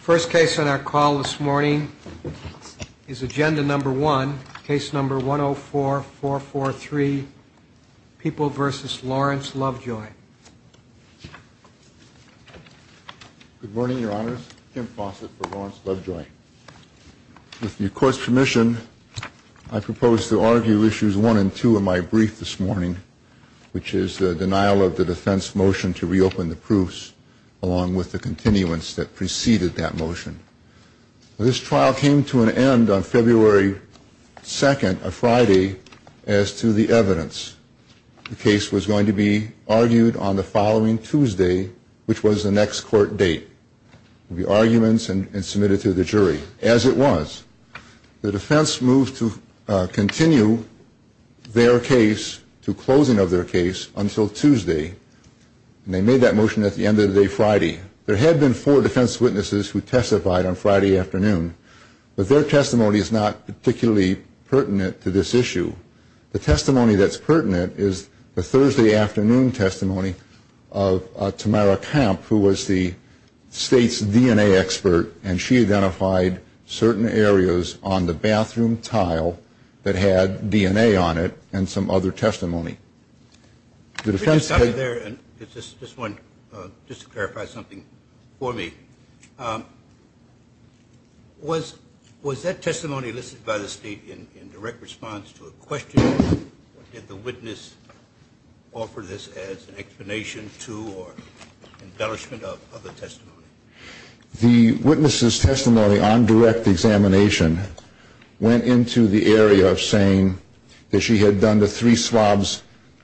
First case on our call this morning is Agenda No. 1, Case No. 104-443, People v. Lawrence Lovejoy. Good morning, Your Honors. Tim Fawcett for Lawrence Lovejoy. With the Court's permission, I propose to argue Issues 1 and 2 of my brief this morning, which is the denial of the defense motion to reopen the proofs, along with the continuance that preceded that motion. This trial came to an end on February 2nd, a Friday, as to the evidence. The case was going to be argued on the following Tuesday, which was the next court date. It would be arguments and submitted to the jury, as it was. The defense moved to continue their case to closing of their case until Tuesday, and they made that motion at the end of the day Friday. There had been four defense witnesses who testified on Friday afternoon, but their testimony is not particularly pertinent to this issue. The testimony that's pertinent is the Thursday afternoon testimony of Tamara Camp, who was the state's DNA expert, and she identified certain areas on the bathroom tile that had DNA on it and some other testimony. The defense... Could you stop it there, just to clarify something for me? Was that testimony listed by the state in direct response to a question? Did the witness offer this as an explanation to or embellishment of the testimony? The witness's testimony on direct examination went into the area of saying that she had done the three swabs,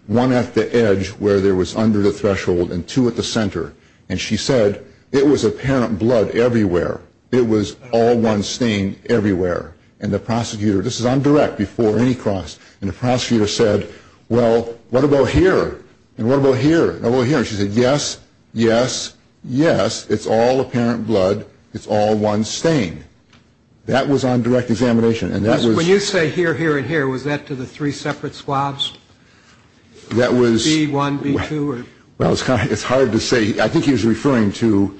one at the edge, where there was under the threshold, and two at the center. And she said, it was apparent blood everywhere. It was all one stain everywhere. And the prosecutor... This is on direct before any cross. And the prosecutor said, well, what about here? And what about here? And what about here? She said, yes, yes, yes, it's all apparent blood. It's all one stain. That was on direct examination, and that was... When you say here, here, and here, was that to the three separate swabs? That was... B1, B2, or... Well, it's hard to say. I think he was referring to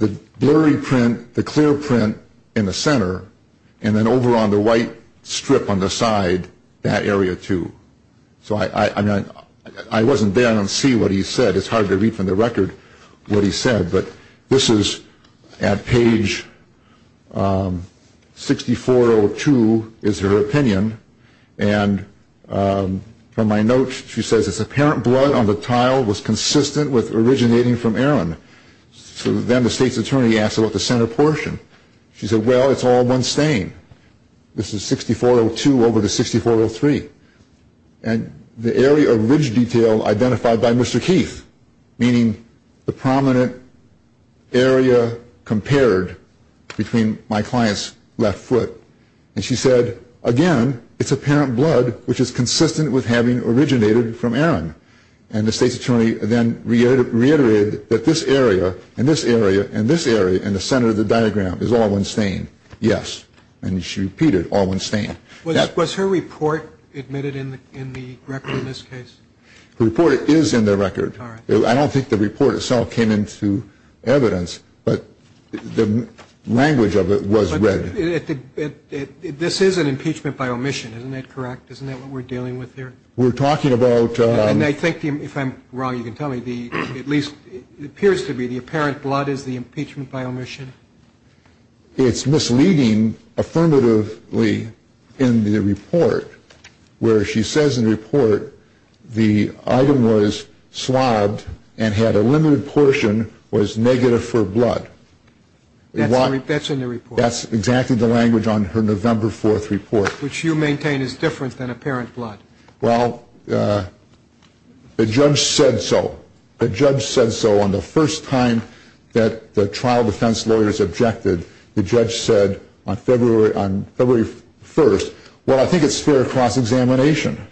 the blurry print, the clear print in the center, and then over on the white strip on the side, that area, too. So I wasn't there, and I don't see what he said. It's hard to read from the record what he said. But this is at page 6402 is her opinion. And from my notes, she says, it's apparent blood on the tile was consistent with originating from Erin. So then the state's attorney asked about the center portion. She said, well, it's all one stain. This is 6402 over the 6403. And the area of ridge detail identified by Mr. Keith, meaning the prominent area compared between my client's left foot. And she said, again, it's apparent blood, which is consistent with having originated from Erin. And the state's attorney then reiterated that this area, and this area, and this area, and the center of the diagram is all one stain. Yes. And she repeated, all one stain. Was her report admitted in the record in this case? The report is in the record. I don't think the report itself came into evidence, but the language of it was read. This is an impeachment by omission, isn't that correct? Isn't that what we're dealing with here? We're talking about – And I think, if I'm wrong, you can tell me, at least it appears to be the apparent blood is the impeachment by omission. It's misleading affirmatively in the report, where she says in the report, the item was swabbed and had a limited portion was negative for blood. That's in the report. That's exactly the language on her November 4th report. Which you maintain is different than apparent blood. Well, the judge said so. The judge said so on the first time that the trial defense lawyers objected. The judge said on February 1st, well, I think it's fair cross-examination.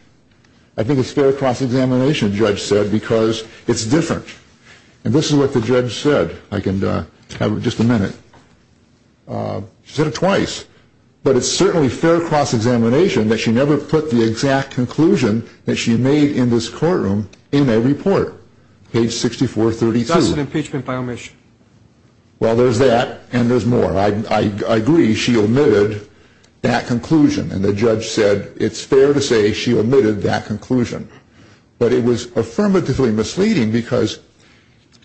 I think it's fair cross-examination, the judge said, because it's different. And this is what the judge said. I can have just a minute. She said it twice. But it's certainly fair cross-examination that she never put the exact conclusion that she made in this courtroom in a report, page 6432. That's an impeachment by omission. Well, there's that and there's more. I agree she omitted that conclusion. And the judge said it's fair to say she omitted that conclusion. But it was affirmatively misleading because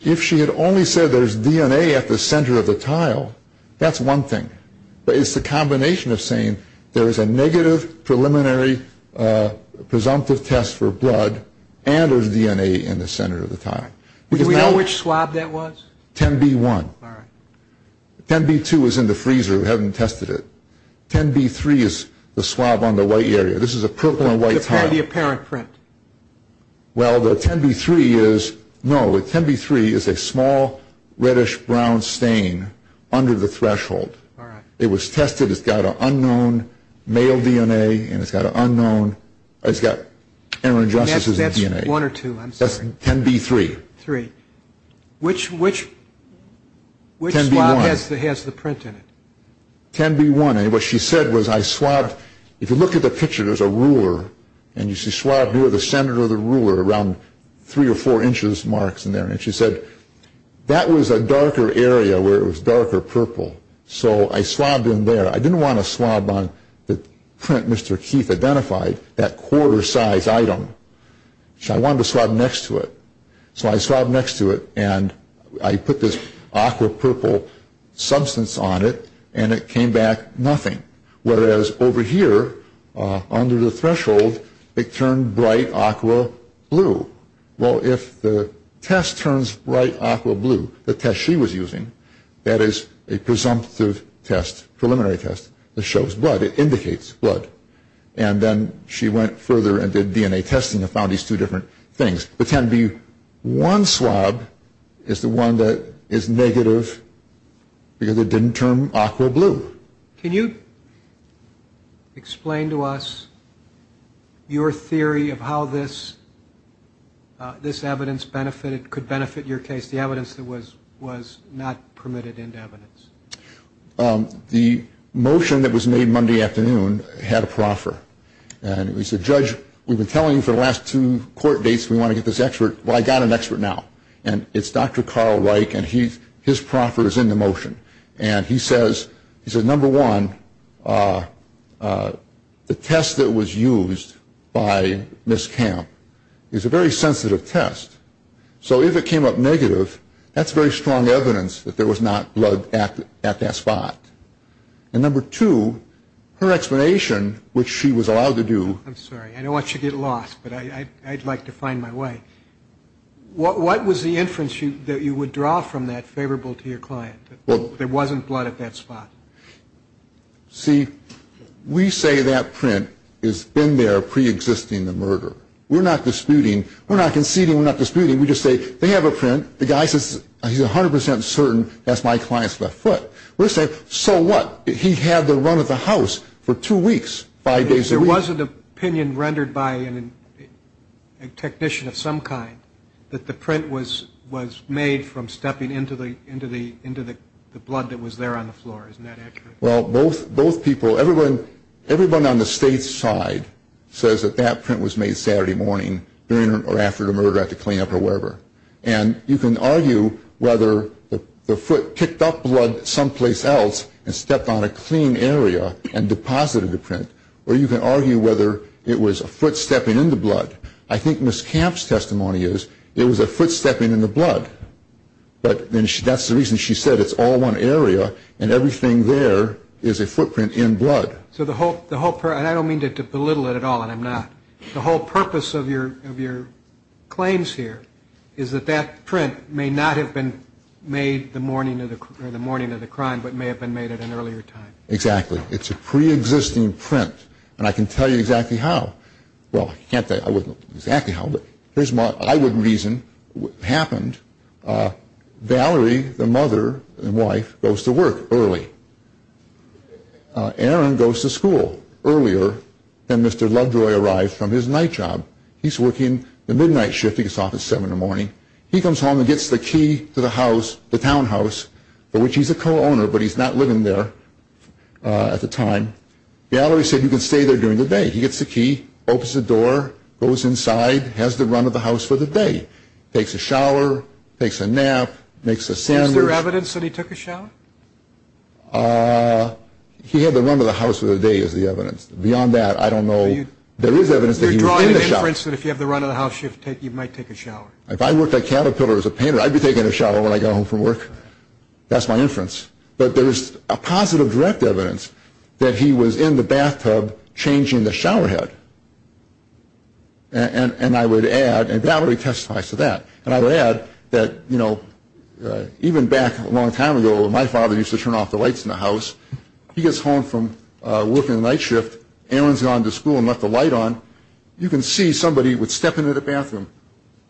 if she had only said there's DNA at the center of the tile, that's one thing. But it's the combination of saying there is a negative preliminary presumptive test for blood and there's DNA in the center of the tile. Do we know which swab that was? 10B1. 10B2 is in the freezer. We haven't tested it. 10B3 is the swab on the white area. This is a purple and white tile. The apparent print. Well, the 10B3 is, no, the 10B3 is a small reddish-brown stain under the threshold. It was tested. It's got an unknown male DNA and it's got an unknown, it's got inter-injustices DNA. That's one or two, I'm sorry. That's 10B3. Three. Which swab has the print in it? 10B1. And what she said was I swabbed, if you look at the picture, there's a ruler. And you see swabbed near the center of the ruler around three or four inches marks in there. And she said that was a darker area where it was darker purple. So I swabbed in there. I didn't want to swab on the print Mr. Keith identified, that quarter-sized item. I wanted to swab next to it. So I swabbed next to it and I put this aqua purple substance on it and it came back nothing. Whereas over here under the threshold it turned bright aqua blue. Well, if the test turns bright aqua blue, the test she was using, that is a presumptive test, preliminary test that shows blood. It indicates blood. And then she went further and did DNA testing and found these two different things. The 10B1 swab is the one that is negative because it didn't turn aqua blue. Can you explain to us your theory of how this evidence could benefit your case, the evidence that was not permitted into evidence? The motion that was made Monday afternoon had a proffer. And we said, Judge, we've been telling you for the last two court dates we want to get this expert. Well, I got an expert now. And it's Dr. Carl Reich and his proffer is in the motion. And he says, number one, the test that was used by Ms. Kemp is a very sensitive test. So if it came up negative, that's very strong evidence that there was not blood at that spot. And number two, her explanation, which she was allowed to do. I'm sorry. I don't want you to get lost, but I'd like to find my way. What was the inference that you would draw from that favorable to your client, that there wasn't blood at that spot? See, we say that print has been there preexisting the murder. We're not disputing. We're not conceding. We're not disputing. We just say they have a print. The guy says he's 100% certain that's my client's left foot. We say, so what? He had the run of the house for two weeks, five days a week. There was an opinion rendered by a technician of some kind that the print was made from stepping into the blood that was there on the floor. Isn't that accurate? Well, both people, everyone on the state's side says that that print was made Saturday morning or after the murder at the cleanup or wherever. And you can argue whether the foot kicked up blood someplace else and stepped on a clean area and deposited the print, or you can argue whether it was a foot stepping in the blood. I think Ms. Camp's testimony is it was a foot stepping in the blood, but that's the reason she said it's all one area and everything there is a footprint in blood. So the whole, and I don't mean to belittle it at all, and I'm not, the whole purpose of your claims here is that that print may not have been made the morning of the crime but may have been made at an earlier time. Exactly. It's a pre-existing print, and I can tell you exactly how. Well, I can't tell you exactly how, but here's my, I would reason what happened. Valerie, the mother and wife, goes to work early. Aaron goes to school earlier than Mr. Lovejoy arrived from his night job. He's working the midnight shift. He gets off at seven in the morning. He comes home and gets the key to the house, the townhouse, for which he's a co-owner, but he's not living there at the time. Valerie said you can stay there during the day. He gets the key, opens the door, goes inside, has the run of the house for the day, takes a shower, takes a nap, makes a sandwich. Is there evidence that he took a shower? He had the run of the house for the day is the evidence. Beyond that, I don't know. There is evidence that he was in the shower. You're drawing an inference that if you have the run of the house, you might take a shower. If I worked at Caterpillar as a painter, I'd be taking a shower when I got home from work. That's my inference. But there's a positive direct evidence that he was in the bathtub changing the shower head. And I would add, and Valerie testified to that, and I would add that even back a long time ago when my father used to turn off the lights in the house, he gets home from working the night shift, Aaron's gone to school and left the light on, you can see somebody would step into the bathroom,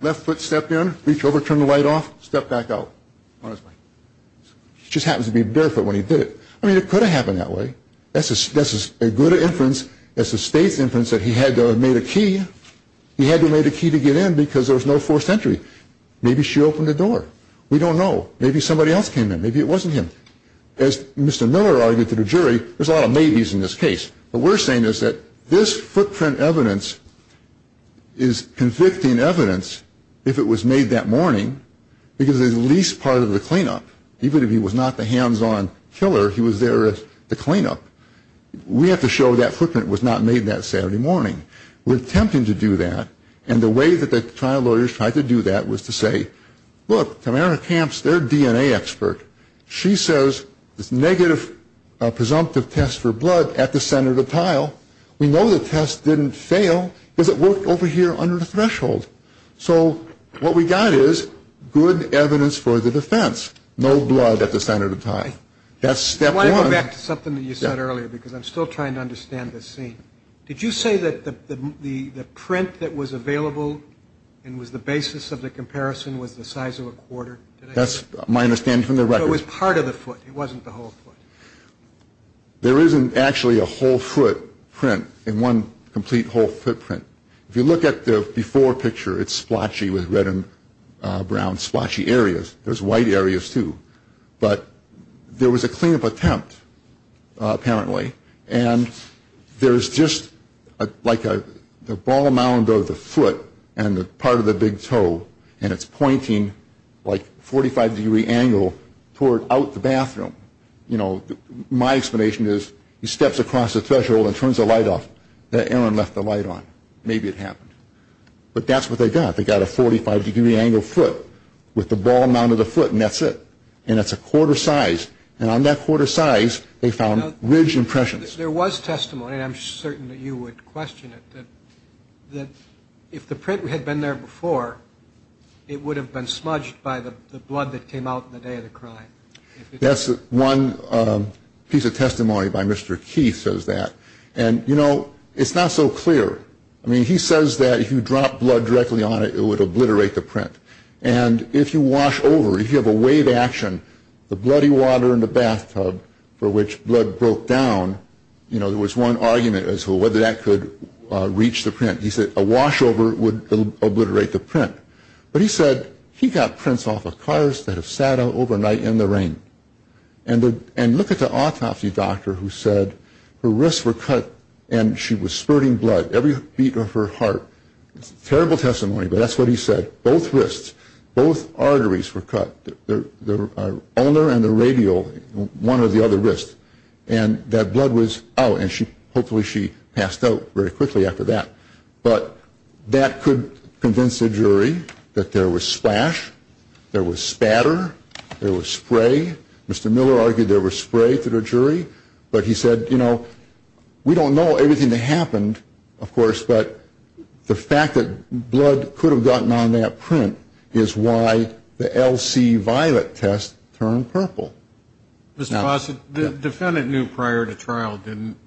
left foot stepped in, reach over, turn the light off, step back out on his way. He just happens to be barefoot when he did it. I mean, it could have happened that way. That's a good inference. That's a state's inference that he had to have made a key. He had to have made a key to get in because there was no forced entry. Maybe she opened the door. We don't know. Maybe somebody else came in. Maybe it wasn't him. As Mr. Miller argued to the jury, there's a lot of maybes in this case. What we're saying is that this footprint evidence is convicting evidence if it was made that morning because it's at least part of the cleanup. Even if he was not the hands-on killer, he was there as the cleanup. We have to show that footprint was not made that Saturday morning. We're attempting to do that. And the way that the trial lawyers tried to do that was to say, look, Tamara Camps, their DNA expert, she says this negative presumptive test for blood at the center of the tile, we know the test didn't fail because it worked over here under the threshold. So what we got is good evidence for the defense, no blood at the center of the tile. That's step one. I want to go back to something that you said earlier because I'm still trying to understand this scene. Did you say that the print that was available and was the basis of the comparison was the size of a quarter? That's my understanding from the record. It was part of the foot. It wasn't the whole foot. There isn't actually a whole foot print in one complete whole footprint. If you look at the before picture, it's splotchy with red and brown splotchy areas. There's white areas, too. But there was a cleanup attempt, apparently. And there's just like the ball amount of the foot and part of the big toe, and it's pointing like 45-degree angle out the bathroom. My explanation is he steps across the threshold and turns the light off. Aaron left the light on. Maybe it happened. But that's what they got. They got a 45-degree angle foot with the ball amount of the foot, and that's it. And that's a quarter size. And on that quarter size, they found ridge impressions. There was testimony, and I'm certain that you would question it, that if the print had been there before, it would have been smudged by the blood that came out in the day of the crime. That's one piece of testimony by Mr. Keith says that. And, you know, it's not so clear. I mean, he says that if you drop blood directly on it, it would obliterate the print. And if you wash over, if you have a wave action, the bloody water in the bathtub for which blood broke down, you know, there was one argument as to whether that could reach the print. He said a wash over would obliterate the print. But he said he got prints off of cars that have sat out overnight in the rain. And look at the autopsy doctor who said her wrists were cut and she was spurting blood. Every beat of her heart. Terrible testimony, but that's what he said. Both wrists, both arteries were cut, the ulnar and the radial, one or the other wrist. And that blood was out. And hopefully she passed out very quickly after that. But that could convince a jury that there was splash, there was spatter, there was spray. Mr. Miller argued there was spray to the jury. But he said, you know, we don't know everything that happened, of course, but the fact that blood could have gotten on that print is why the LC violet test turned purple. Mr. Fossett, the defendant knew prior to trial, didn't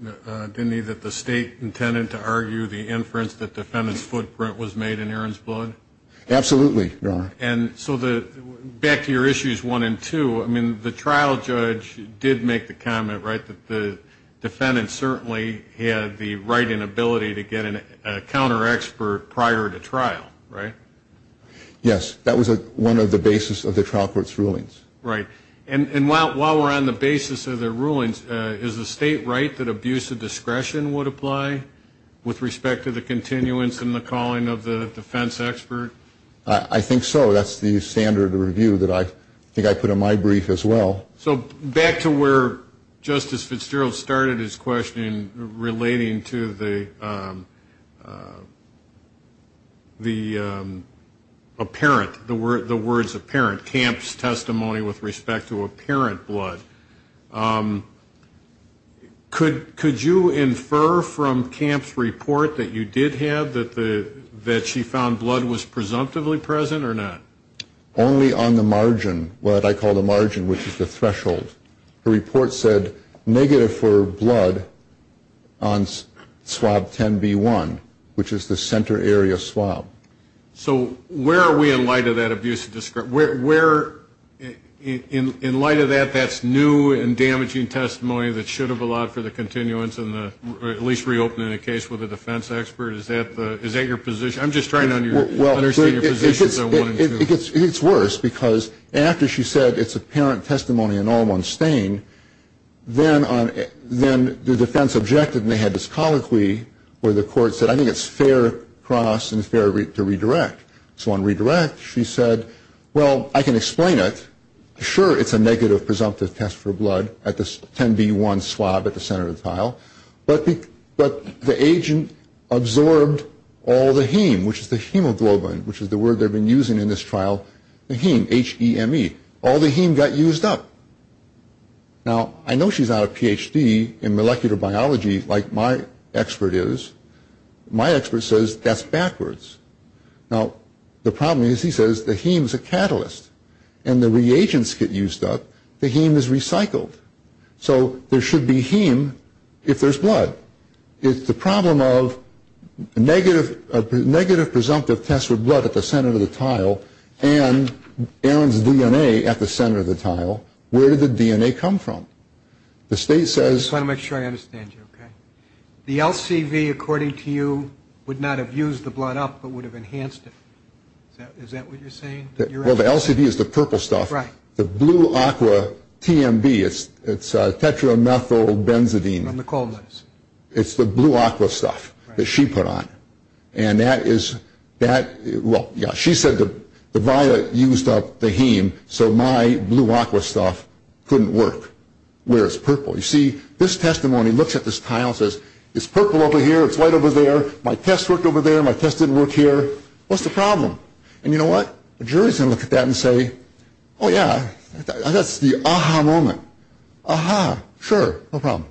he, that the state intended to argue the inference that the defendant's footprint was made in Erin's blood? Absolutely, Your Honor. And so back to your issues one and two, I mean, the trial judge did make the comment, right, that the defendant certainly had the right and ability to get a counter expert prior to trial, right? Yes, that was one of the basis of the trial court's rulings. Right. And while we're on the basis of the rulings, is the state right that abuse of discretion would apply with respect to the continuance and the calling of the defense expert? I think so. That's the standard review that I think I put in my brief as well. So back to where Justice Fitzgerald started his question relating to the apparent, the words apparent, Camp's testimony with respect to apparent blood, could you infer from Camp's report that you did have that she found blood was presumptively present or not? Only on the margin, what I call the margin, which is the threshold. The report said negative for blood on swab 10B1, which is the center area swab. So where are we in light of that abuse of discretion? In light of that, that's new and damaging testimony that should have allowed for the continuance and at least reopening the case with a defense expert? Is that your position? I'm just trying to understand your position. It's worse because after she said it's apparent testimony in all one's stain, then the defense objected and they had this colloquy where the court said, I think it's fair cross and fair to redirect. So on redirect, she said, well, I can explain it. Sure, it's a negative presumptive test for blood at this 10B1 swab at the center of the tile, but the agent absorbed all the heme, which is the hemoglobin, which is the word they've been using in this trial, the heme, H-E-M-E. All the heme got used up. Now, I know she's not a Ph.D. in molecular biology like my expert is. My expert says that's backwards. Now, the problem is he says the heme is a catalyst, and the reagents get used up. The heme is recycled. So there should be heme if there's blood. It's the problem of negative presumptive tests for blood at the center of the tile and Aaron's DNA at the center of the tile. Where did the DNA come from? The state says – I just want to make sure I understand you, okay? The LCV, according to you, would not have used the blood up but would have enhanced it. Is that what you're saying? Well, the LCV is the purple stuff. The blue aqua TMB, it's tetranethylbenzidine. It's the blue aqua stuff that she put on. She said the violet used up the heme, so my blue aqua stuff couldn't work where it's purple. You see, this testimony looks at this tile and says, it's purple over here, it's white over there, my test worked over there, my test didn't work here. What's the problem? And you know what? The jury's going to look at that and say, oh, yeah, that's the ah-ha moment. Ah-ha, sure, no problem.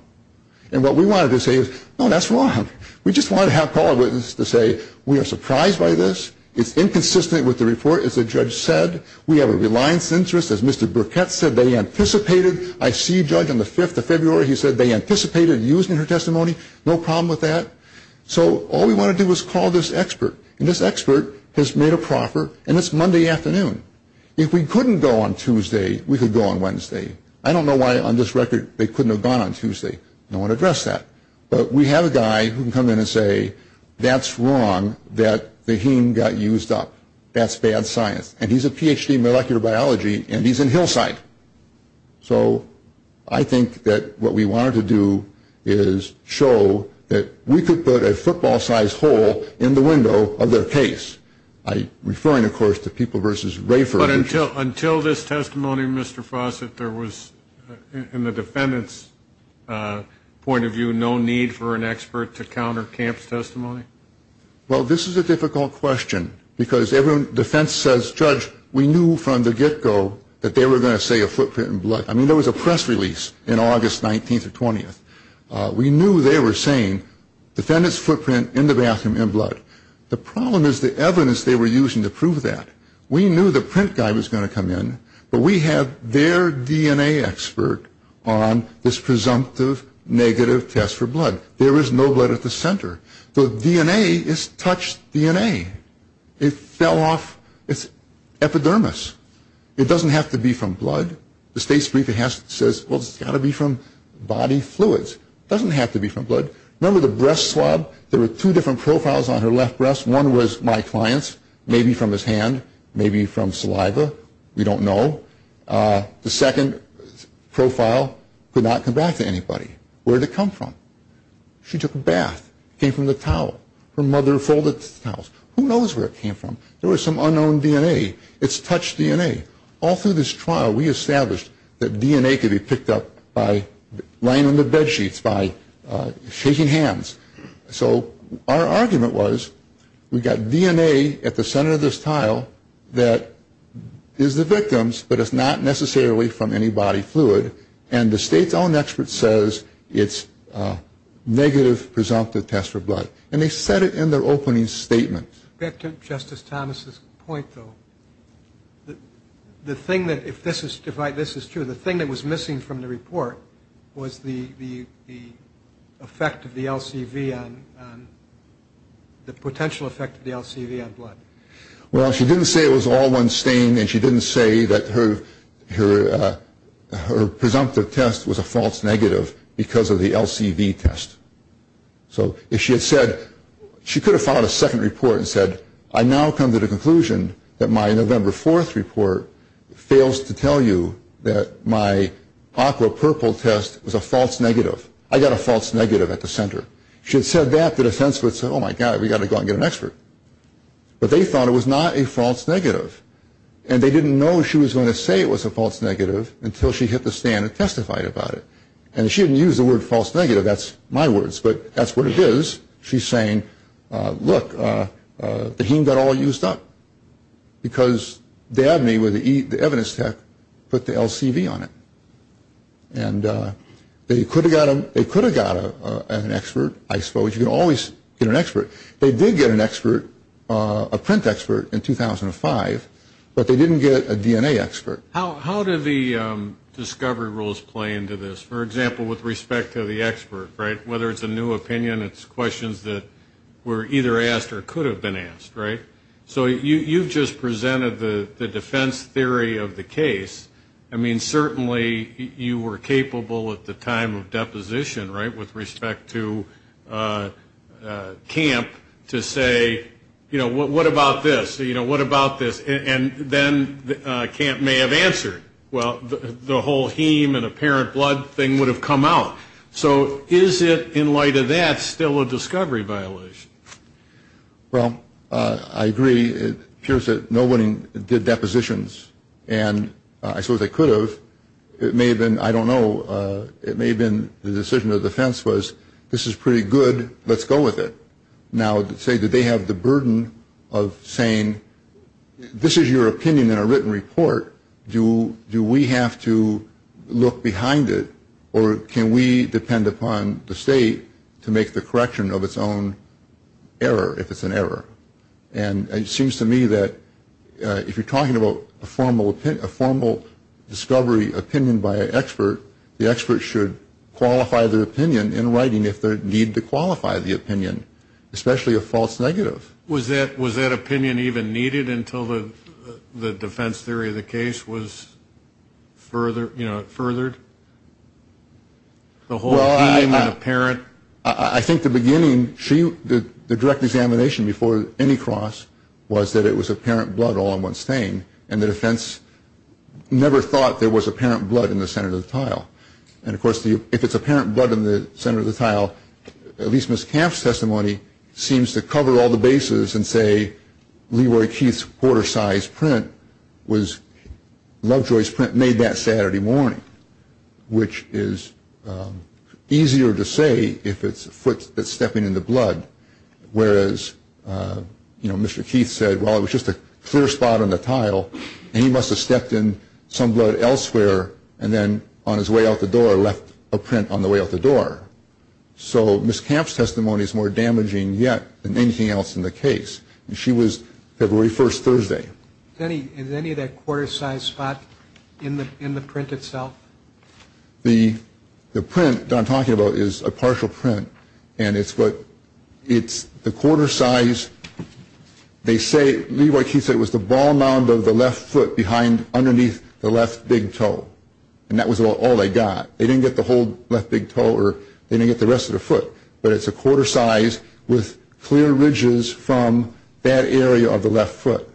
And what we wanted to say is, no, that's wrong. We just wanted to have call a witness to say, we are surprised by this. It's inconsistent with the report, as the judge said. We have a reliance interest, as Mr. Burkett said, they anticipated. I see a judge on the 5th of February, he said they anticipated using her testimony. No problem with that. So all we want to do is call this expert, and this expert has made a proffer, and it's Monday afternoon. If we couldn't go on Tuesday, we could go on Wednesday. I don't know why on this record they couldn't have gone on Tuesday. I don't want to address that. But we have a guy who can come in and say, that's wrong, that the heme got used up. That's bad science. And he's a Ph.D. in molecular biology, and he's in Hillside. So I think that what we wanted to do is show that we could put a football-sized hole in the window of their case. I'm referring, of course, to People v. Rafer. But until this testimony, Mr. Fawcett, there was, in the defendant's point of view, no need for an expert to counter Camp's testimony? Well, this is a difficult question because defense says, Judge, we knew from the get-go that they were going to say a footprint in blood. I mean, there was a press release in August 19th or 20th. We knew they were saying, defendant's footprint in the bathroom in blood. The problem is the evidence they were using to prove that. We knew the print guy was going to come in, but we have their DNA expert on this presumptive negative test for blood. There is no blood at the center. The DNA is touched DNA. It fell off. It's epidermis. It doesn't have to be from blood. The state's brief says, well, it's got to be from body fluids. It doesn't have to be from blood. Remember the breast swab? There were two different profiles on her left breast. One was my client's, maybe from his hand, maybe from saliva. We don't know. The second profile could not come back to anybody. Where did it come from? She took a bath. It came from the towel. Her mother folded the towels. Who knows where it came from? There was some unknown DNA. It's touched DNA. All through this trial, we established that DNA could be picked up by laying on the bedsheets, by shaking hands. So our argument was we got DNA at the center of this tile that is the victim's, but it's not necessarily from any body fluid. And the state's own expert says it's a negative presumptive test for blood. And they said it in their opening statement. Back to Justice Thomas's point, though, the thing that, if this is true, the thing that was missing from the report was the effect of the LCV on, the potential effect of the LCV on blood. Well, she didn't say it was all one stain, and she didn't say that her presumptive test was a false negative because of the LCV test. So if she had said, she could have filed a second report and said, I now come to the conclusion that my November 4th report fails to tell you that my aqua purple test was a false negative. I got a false negative at the center. She had said that to the defense, but said, oh, my God, we've got to go and get an expert. But they thought it was not a false negative, and they didn't know she was going to say it was a false negative until she hit the stand and testified about it. And she didn't use the word false negative. That's my words, but that's what it is. She's saying, look, the heme got all used up because Dabney, with the evidence tech, put the LCV on it. And they could have got an expert, I suppose. You can always get an expert. They did get an expert, a print expert, in 2005, but they didn't get a DNA expert. How do the discovery rules play into this? For example, with respect to the expert, right, whether it's a new opinion, it's questions that were either asked or could have been asked, right? So you've just presented the defense theory of the case. I mean, certainly you were capable at the time of deposition, right, with respect to Camp to say, you know, what about this? You know, what about this? And then Camp may have answered. Well, the whole heme and apparent blood thing would have come out. So is it, in light of that, still a discovery violation? Well, I agree. It appears that no one did depositions, and I suppose they could have. It may have been, I don't know, it may have been the decision of the defense was, this is pretty good. Let's go with it. Now, say that they have the burden of saying, this is your opinion in a written report. Do we have to look behind it, or can we depend upon the state to make the correction of its own error, if it's an error? And it seems to me that if you're talking about a formal discovery opinion by an expert, the expert should qualify their opinion in writing if they need to qualify the opinion, especially a false negative. Was that opinion even needed until the defense theory of the case was furthered? Well, I think the beginning, the direct examination before any cross was that it was apparent blood all in one stain, and the defense never thought there was apparent blood in the center of the tile. And, of course, if it's apparent blood in the center of the tile, at least Ms. Kampf's testimony seems to cover all the bases and say Leroy Keith's quarter-sized print was, Lovejoy's print made that Saturday morning, which is easier to say if it's a foot that's stepping in the blood, whereas, you know, Mr. Keith said, well, it was just a clear spot on the tile, and he must have stepped in some blood elsewhere and then on his way out the door left a print on the way out the door. So Ms. Kampf's testimony is more damaging yet than anything else in the case. She was February 1st, Thursday. Is any of that quarter-sized spot in the print itself? The print that I'm talking about is a partial print, and it's the quarter size. They say Leroy Keith said it was the ball mound of the left foot underneath the left big toe, and that was all they got. They didn't get the whole left big toe or they didn't get the rest of the foot, but it's a quarter size with clear ridges from that area of the left foot.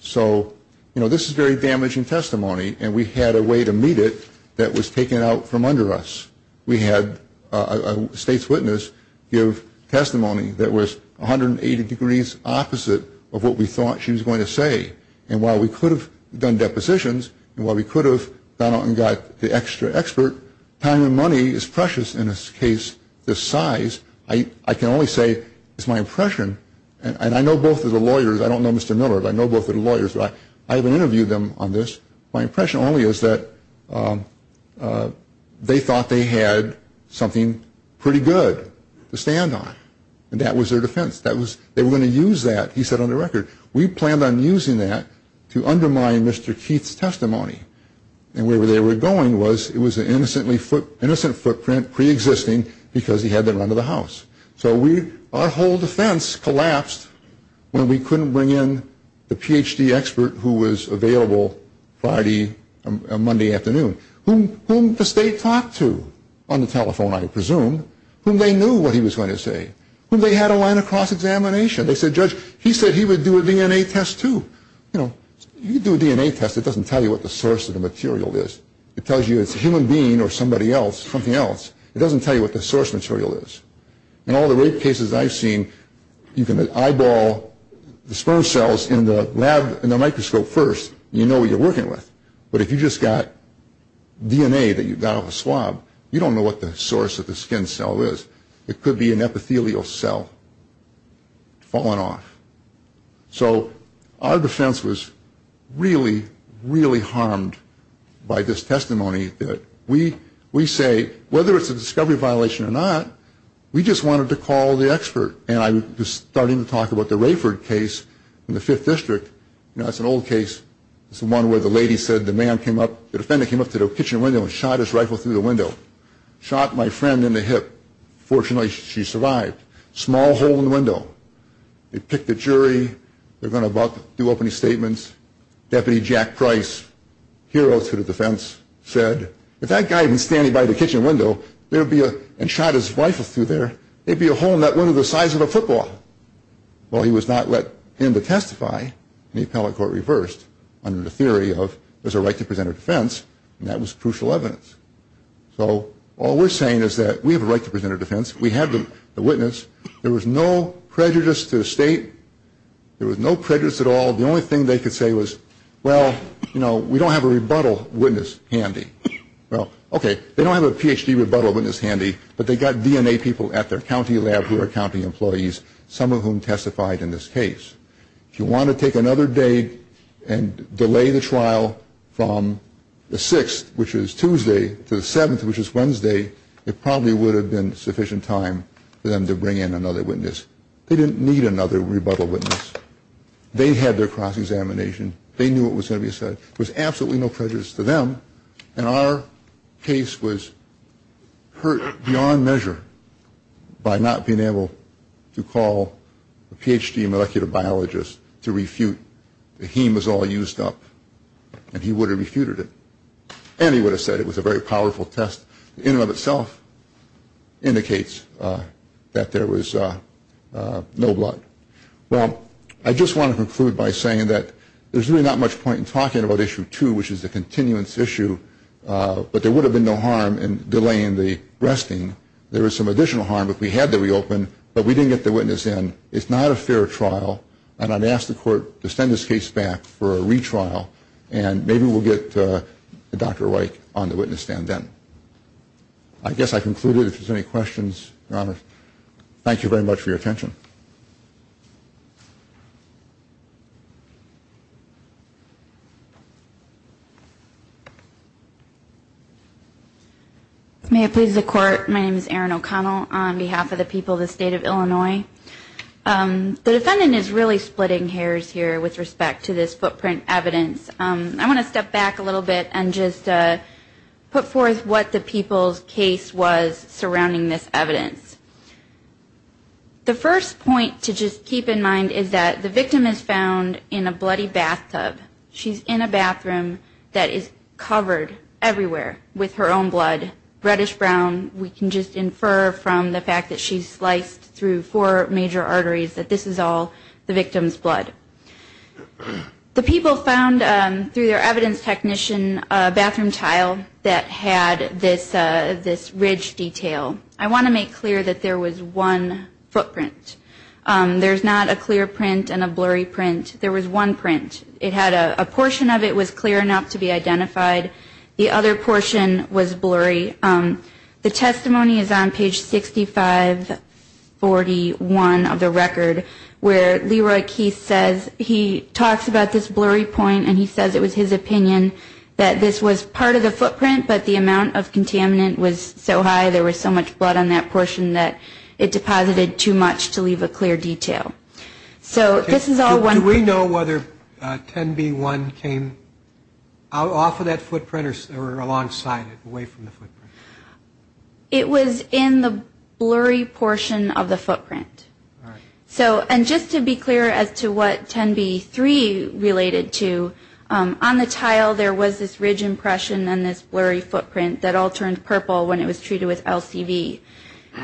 So, you know, this is very damaging testimony, and we had a way to meet it that was taken out from under us. We had a state's witness give testimony that was 180 degrees opposite of what we thought she was going to say, and while we could have done depositions and while we could have gone out and got the extra expert, time and money is precious in a case this size. I can only say it's my impression, and I know both of the lawyers. I don't know Mr. Miller, but I know both of the lawyers. I haven't interviewed them on this. My impression only is that they thought they had something pretty good to stand on, and that was their defense. They were going to use that, he said on the record. We planned on using that to undermine Mr. Keith's testimony, and where they were going was it was an innocent footprint preexisting because he had the run of the house. So our whole defense collapsed when we couldn't bring in the Ph.D. expert who was available Friday or Monday afternoon, whom the state talked to on the telephone, I presume, whom they knew what he was going to say, whom they had a line of cross-examination. They said, Judge, he said he would do a DNA test, too. You know, you do a DNA test, it doesn't tell you what the source of the material is. It tells you it's a human being or somebody else, something else. It doesn't tell you what the source material is. In all the rape cases I've seen, you can eyeball the sperm cells in the microscope first, and you know what you're working with, but if you just got DNA that you got off a swab, you don't know what the source of the skin cell is. It could be an epithelial cell falling off. So our defense was really, really harmed by this testimony that we say, whether it's a discovery violation or not, we just wanted to call the expert. And I was starting to talk about the Rayford case in the Fifth District. You know, it's an old case. It's the one where the lady said the man came up, the defendant came up to the kitchen window and shot his rifle through the window. Shot my friend in the hip. Fortunately, she survived. Small hole in the window. They picked a jury. They're going to do opening statements. Deputy Jack Price, hero to the defense, said, if that guy had been standing by the kitchen window and shot his rifle through there, there'd be a hole in that window the size of a football. Well, he was not let in to testify, and the appellate court reversed under the theory of there's a right to present a defense, and that was crucial evidence. So all we're saying is that we have a right to present a defense. We have the witness. There was no prejudice to the state. There was no prejudice at all. The only thing they could say was, well, you know, we don't have a rebuttal witness handy. Well, okay, they don't have a Ph.D. rebuttal witness handy, but they got DNA people at their county lab who are county employees, some of whom testified in this case. If you want to take another day and delay the trial from the 6th, which is Tuesday, to the 7th, which is Wednesday, it probably would have been sufficient time for them to bring in another witness. They didn't need another rebuttal witness. They had their cross-examination. They knew what was going to be said. There was absolutely no prejudice to them, and our case was hurt beyond measure by not being able to call a Ph.D. molecular biologist to refute. The heme was all used up, and he would have refuted it, and he would have said it was a very powerful test in and of itself indicates that there was no blood. Well, I just want to conclude by saying that there's really not much point in talking about Issue 2, which is the continuance issue, but there would have been no harm in delaying the resting. There was some additional harm if we had the reopen, but we didn't get the witness in. It's not a fair trial, and I'd ask the court to send this case back for a retrial, and maybe we'll get Dr. Wike on the witness stand then. I guess I've concluded. If there's any questions, Your Honor, thank you very much for your attention. May it please the Court, my name is Erin O'Connell. On behalf of the people of the State of Illinois, the defendant is really splitting hairs here with respect to this footprint evidence. I want to step back a little bit and just put forth what the people's case was surrounding this evidence. The first point to just keep in mind is that the victim is found in a bloody bathtub. She's in a bathroom that is covered everywhere with her own blood, reddish brown. We can just infer from the fact that she's sliced through four major arteries that this is all the victim's blood. The people found, through their evidence technician, a bathroom tile that had this ridge detail. I want to make clear that there was one footprint. There's not a clear print and a blurry print. There was one print. A portion of it was clear enough to be identified. The other portion was blurry. The testimony is on page 6541 of the record where Leroy Keith says he talks about this blurry point and he says it was his opinion that this was part of the footprint, but the amount of contaminant was so high, there was so much blood on that portion that it deposited too much to leave a clear detail. So this is all one footprint. Do you know whether 10B1 came off of that footprint or alongside it, away from the footprint? It was in the blurry portion of the footprint. And just to be clear as to what 10B3 related to, on the tile there was this ridge impression and this blurry footprint that all turned purple when it was treated with LCV.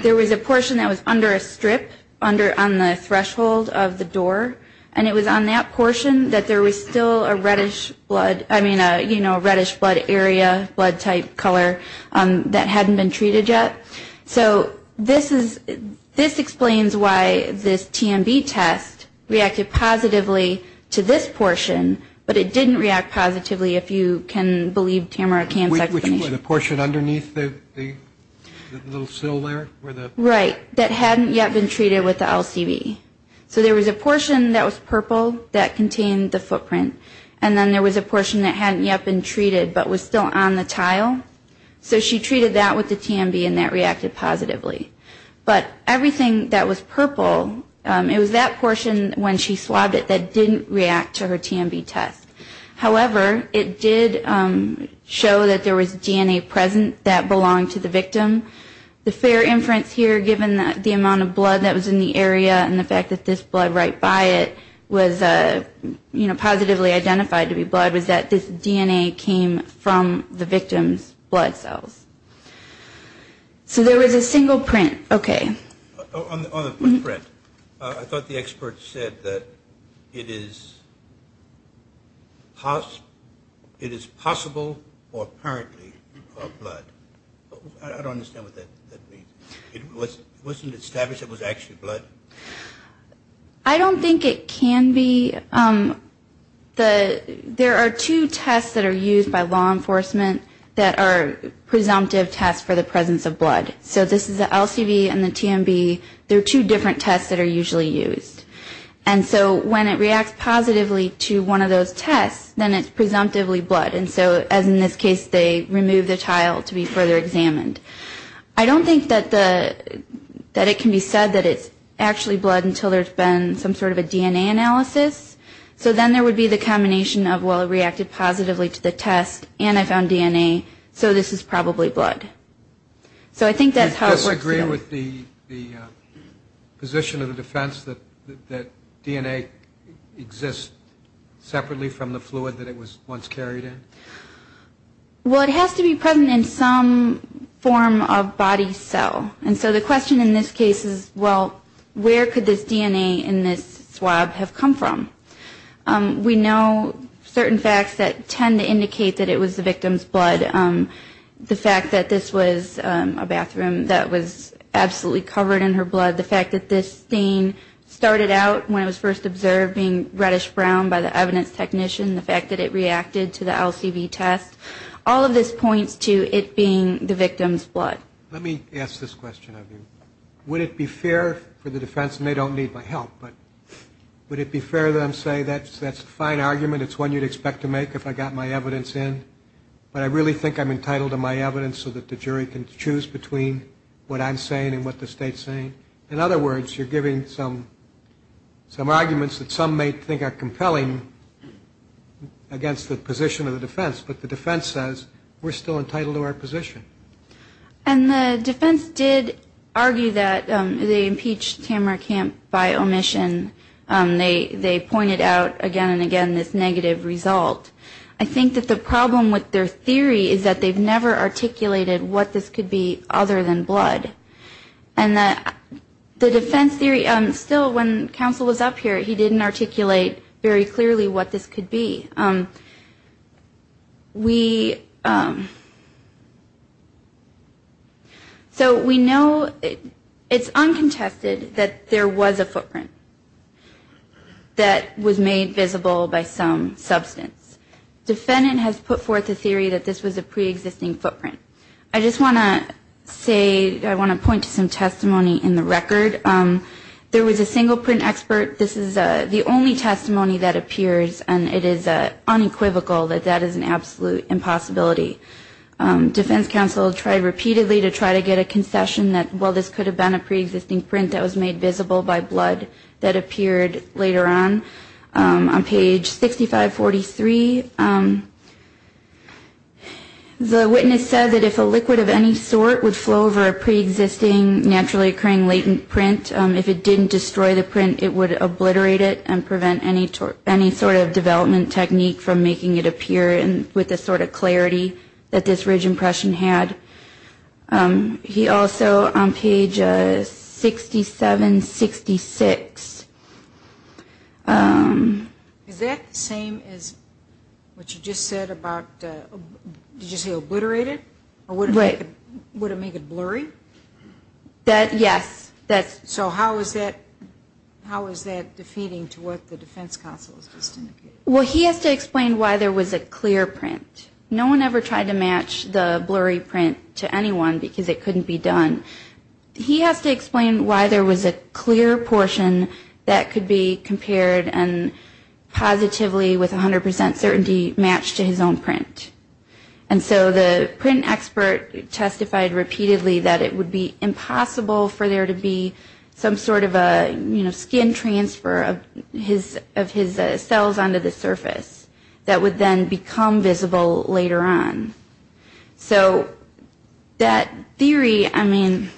There was a portion that was under a strip on the threshold of the door, and it was on that portion that there was still a reddish blood, I mean, you know, a reddish blood area, blood type, color that hadn't been treated yet. So this explains why this TMB test reacted positively to this portion, but it didn't react positively if you can believe Tamara Kahn's explanation. Which was the portion underneath the little sill there? Right. That hadn't yet been treated with the LCV. So there was a portion that was purple that contained the footprint, and then there was a portion that hadn't yet been treated but was still on the tile. So she treated that with the TMB and that reacted positively. But everything that was purple, it was that portion when she swabbed it that didn't react to her TMB test. However, it did show that there was DNA present that belonged to the victim. The fair inference here, given the amount of blood that was in the area and the fact that this blood right by it was, you know, positively identified to be blood, was that this DNA came from the victim's blood cells. So there was a single print. Okay. On the footprint, I thought the expert said that it is possible or apparently blood. I don't understand what that means. It wasn't established it was actually blood? I don't think it can be. There are two tests that are used by law enforcement that are presumptive tests for the presence of blood. So this is the LCV and the TMB. They're two different tests that are usually used. And so when it reacts positively to one of those tests, then it's presumptively blood. And so, as in this case, they remove the tile to be further examined. I don't think that it can be said that it's actually blood until there's been some sort of a DNA analysis. So then there would be the combination of, well, it reacted positively to the test and I found DNA, so this is probably blood. So I think that's how it feels. Are you okay with the position of the defense that DNA exists separately from the fluid that it was once carried in? Well, it has to be present in some form of body cell. And so the question in this case is, well, where could this DNA in this swab have come from? We know certain facts that tend to indicate that it was the victim's blood. The fact that this was a bathroom that was absolutely covered in her blood, the fact that this stain started out when it was first observed being reddish brown by the evidence technician, the fact that it reacted to the LCV test, all of this points to it being the victim's blood. Let me ask this question of you. Would it be fair for the defense, and they don't need my help, but would it be fair to them to say that's a fine argument, it's one you'd expect to make if I got my evidence in, but I really think I'm entitled to my evidence so that the jury can choose between what I'm saying and what the state's saying? In other words, you're giving some arguments that some may think are compelling against the position of the defense, but the defense says we're still entitled to our position. And the defense did argue that they impeached Tamara Camp by omission. They pointed out again and again this negative result. I think that the problem with their theory is that they've never articulated what this could be other than blood. And the defense theory, still when counsel was up here, he didn't articulate very clearly what this could be. So we know, it's uncontested that there was a footprint that was made visible by some substance. Defendant has put forth a theory that this was a preexisting footprint. I just want to say, I want to point to some testimony in the record. There was a single print expert. This is the only testimony that appears, and it is unequivocal that that is an absolute impossibility. Defense counsel tried repeatedly to try to get a concession that, well, this could have been a preexisting print that was made visible by blood that appeared later on. On page 6543, the witness said that if a liquid of any sort would flow over a preexisting, naturally occurring latent print, if it didn't destroy the print, it would obliterate it and prevent any sort of development technique from making it appear with the sort of clarity that this Ridge impression had. He also, on page 6766. Is that the same as what you just said about, did you say obliterated? Right. Would it make it blurry? Yes. So how is that defeating to what the defense counsel has just indicated? Well, he has to explain why there was a clear print. No one ever tried to match the blurry print to anyone because it couldn't be done. He has to explain why there was a clear portion that could be compared and positively with 100 percent certainty matched to his own print. And so the print expert testified repeatedly that it would be impossible for there to be some sort of a, you know, skin transfer of his cells onto the surface that would then become visible later on. So that theory, I mean,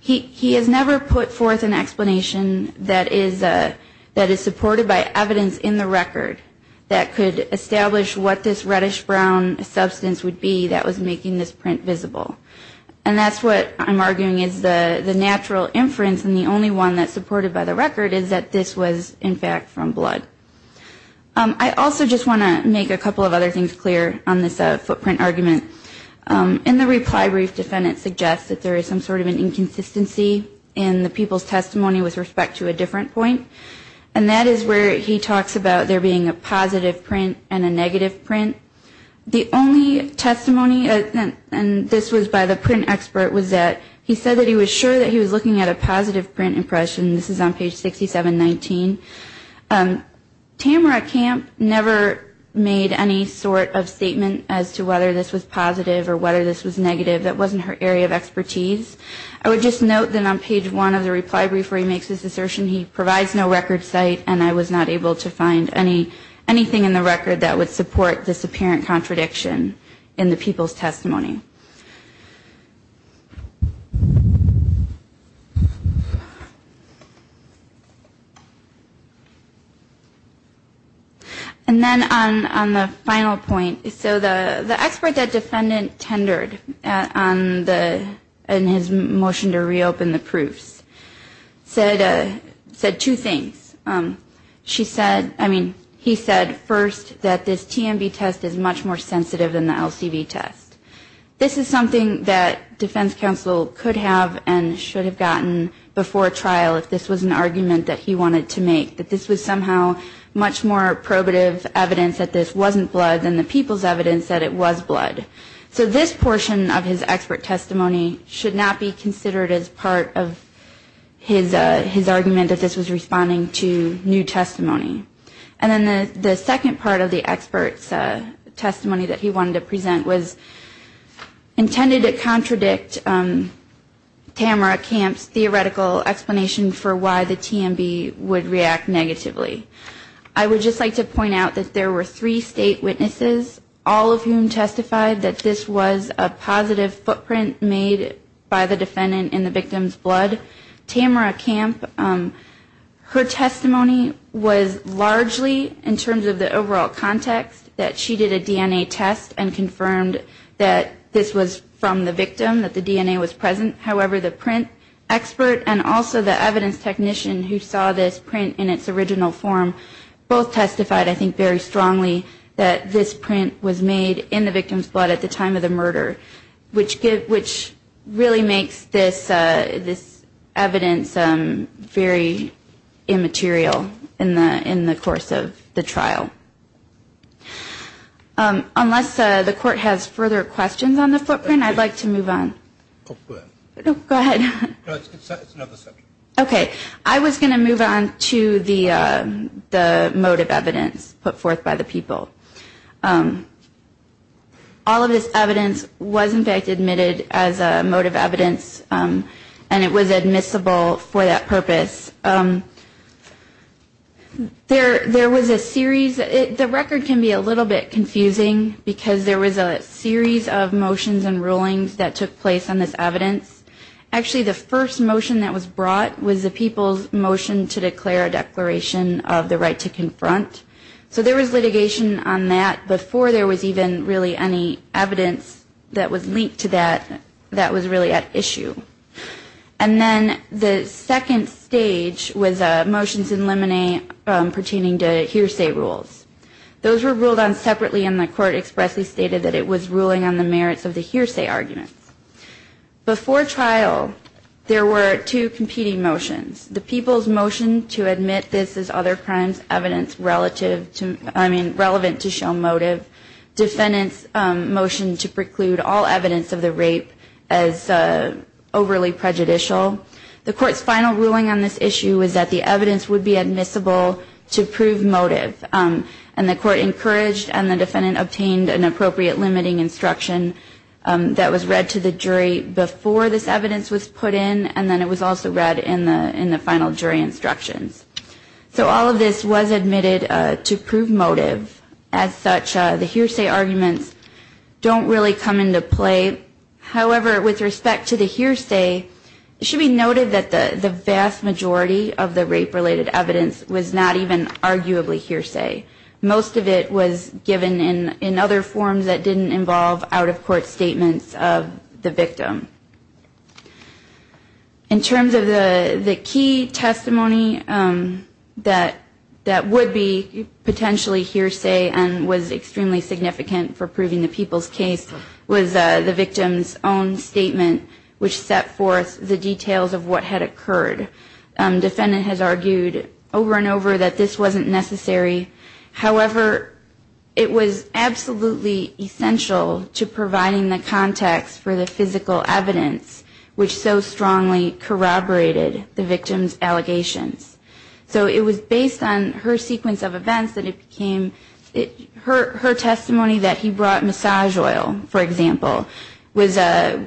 he has never put forth an explanation that is supported by evidence in the record that could establish what this reddish brown substance would be that was making this print visible. And that's what I'm arguing is the natural inference, and the only one that's supported by the record is that this was, in fact, from blood. I also just want to make a couple of other things clear on this footprint argument. In the reply brief, defendant suggests that there is some sort of an inconsistency in the people's testimony with respect to a different point. And that is where he talks about there being a positive print and a negative print. The only testimony, and this was by the print expert, was that he said that he was sure that he was looking at a positive print impression. This is on page 6719. Tamara Camp never made any sort of statement as to whether this was positive or whether this was negative. That wasn't her area of expertise. I would just note that on page one of the reply brief where he makes this assertion, he provides no record site and I was not able to find anything in the record that would support this apparent contradiction in the people's testimony. And then on the final point, so the expert that defendant tendered in his motion to reopen the proofs said two things. He said first that this TMB test is much more sensitive than the LCB test. This is something that defense counsel could have and should have gotten before trial if this was an argument that he wanted to make, that this was somehow much more probative evidence that this wasn't blood than the people's evidence that it was blood. So this portion of his expert testimony should not be considered as part of his argument that this was responding to new testimony. And then the second part of the expert's testimony that he wanted to present was intended to contradict Tamara Camp's theoretical explanation for why the TMB would react negatively. I would just like to point out that there were three state witnesses, all of whom testified that this was a positive footprint made by the defendant in the victim's blood. Tamara Camp, her testimony was largely in terms of the overall context that she did a DNA test and confirmed that this was from the victim, that the DNA was present. However, the print expert and also the evidence technician who saw this print in its original form both testified, I think, very strongly that this print was made in the victim's blood at the time of the murder, which really makes this evidence very immaterial in the course of the trial. Unless the court has further questions on the footprint, I'd like to move on. Go ahead. Okay, I was going to move on to the motive evidence put forth by the people. All of this evidence was in fact admitted as motive evidence and it was admissible for that purpose. There was a series, the record can be a little bit confusing because there was a series of motions and rulings that took place on this evidence. Actually, the first motion that was brought was the people's motion to declare a declaration of the right to confront. So there was litigation on that before there was even really any evidence that was linked to that that was really at issue. And then the second stage was motions in limine pertaining to hearsay rules. Those were ruled on separately and the court expressly stated that it was ruling on the merits of the hearsay arguments. Before trial, there were two competing motions. The people's motion to admit this as other crimes evidence relative to, I mean, relevant to show motive. Defendant's motion to preclude all evidence of the rape as overly prejudicial. The court's final ruling on this issue was that the evidence would be admissible to prove motive. And the court encouraged and the defendant obtained an appropriate limiting instruction that was read to the jury before this evidence was put in and then it was also read in the final jury instructions. So all of this was admitted to prove motive. As such, the hearsay arguments don't really come into play. However, with respect to the hearsay, it should be noted that the vast majority of the rape-related evidence was not even arguably hearsay. Most of it was given in other forms that didn't involve out-of-court statements of the victim. In terms of the key testimony that would be potentially hearsay and was extremely significant for proving the people's case was the victim's own statement, which set forth the details of what had occurred. Defendant has argued over and over that this wasn't necessary. However, it was absolutely essential to providing the context for the physical evidence, which so strongly corroborated the victim's allegations. So it was based on her sequence of events that it became her testimony that he brought massage oil, for example, was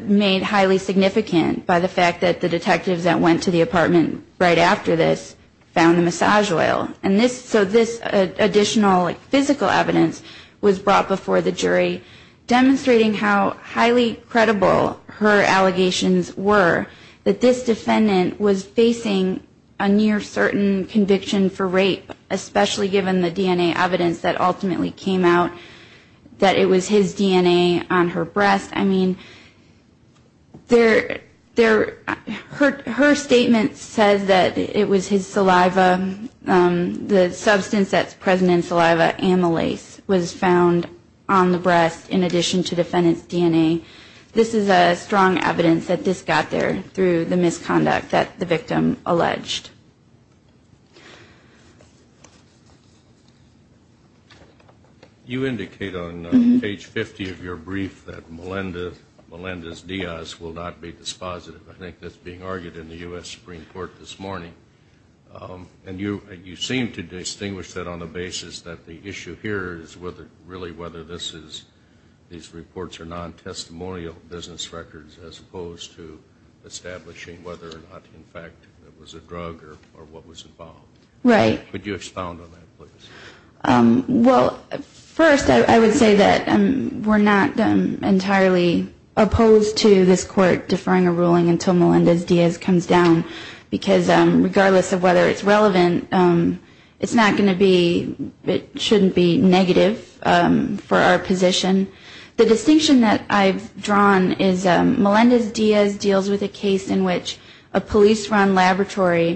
made highly significant by the fact that the detectives that went to the apartment were not aware of this. So this additional physical evidence was brought before the jury, demonstrating how highly credible her allegations were that this defendant was facing a near-certain conviction for rape, especially given the DNA evidence that ultimately came out that it was his DNA on her breast. I mean, her statement says that it was his saliva, the substance that's present in saliva, amylase, was found on the breast in addition to the defendant's DNA. This is strong evidence that this got there through the misconduct that the victim alleged. You indicate on page 50 of your brief that Melendez-Diaz will not be dispositive. I think that's being argued in the U.S. Supreme Court this morning. And you seem to distinguish that on the basis that the issue here is really whether these reports are non-testimonial business records, as opposed to establishing whether or not, in fact, it was a drug or a substance. Right. Could you expound on that, please? Well, first, I would say that we're not entirely opposed to this court deferring a ruling until Melendez-Diaz comes down, because regardless of whether it's relevant, it's not going to be, it shouldn't be negative for our position. The distinction that I've drawn is Melendez-Diaz deals with a case in which a police-run laboratory was involved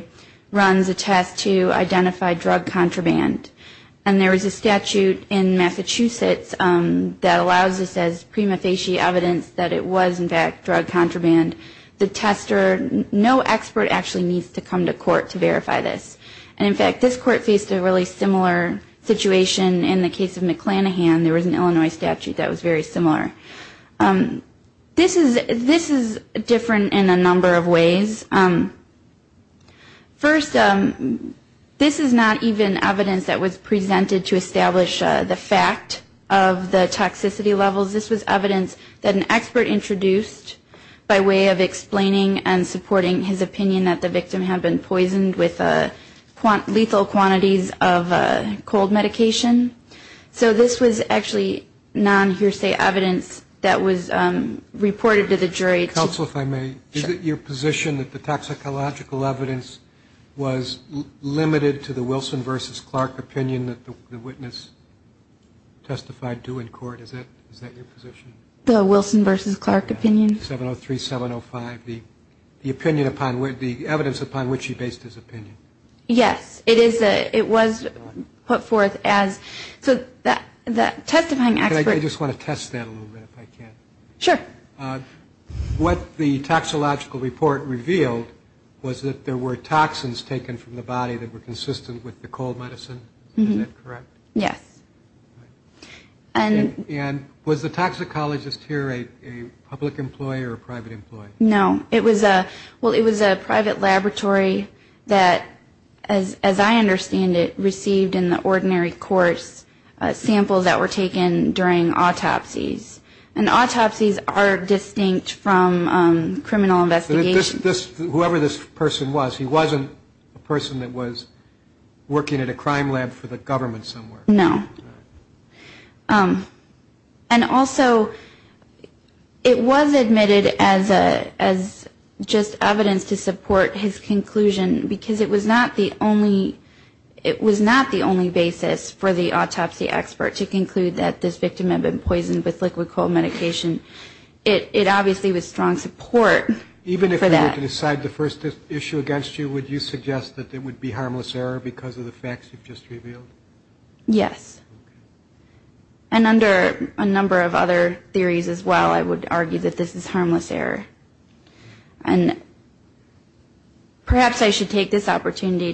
in a crime. And there was a statute in Massachusetts that allows this as prima facie evidence that it was, in fact, drug contraband. The tester, no expert actually needs to come to court to verify this. And, in fact, this court faced a really similar situation in the case of McClanahan. There was an Illinois statute that was very similar. This is different in a number of ways. First, this is not even evidence that was presented to establish the fact of the toxicity levels. This was evidence that an expert introduced by way of explaining and supporting his opinion that the victim had been poisoned with lethal quantities of cold medication. So this was actually non-hearsay evidence that was reported to the jury. Counsel, if I may, is it your position that the toxicological evidence was limited to the Wilson v. Clark opinion that the witness testified to in court? Is that your position? The Wilson v. Clark opinion. 703, 705, the evidence upon which he based his opinion. Yes, it was put forth as... I just want to test that a little bit, if I can. Sure. What the toxicological report revealed was that there were toxins taken from the body that were consistent with the cold medicine. Is that correct? Yes. And was the toxicologist here a public employee or a private employee? No. Well, it was a private laboratory that, as I understand it, received in the ordinary course samples that were taken during autopsies. And autopsies are distinct from criminal investigations. Whoever this person was, he wasn't a person that was working at a crime lab for the government somewhere. No. And also, it was admitted as just evidence to support his conclusion, because it was not the only basis for the autopsy expert to conclude that this victim had been poisoned with liquid cold medication. It obviously was strong support for that. Even if you were to decide the first issue against you, would you suggest that it would be harmless error because of the facts you've just revealed? Yes. And under a number of other theories as well, I would argue that this is harmless error. And perhaps I should take this opportunity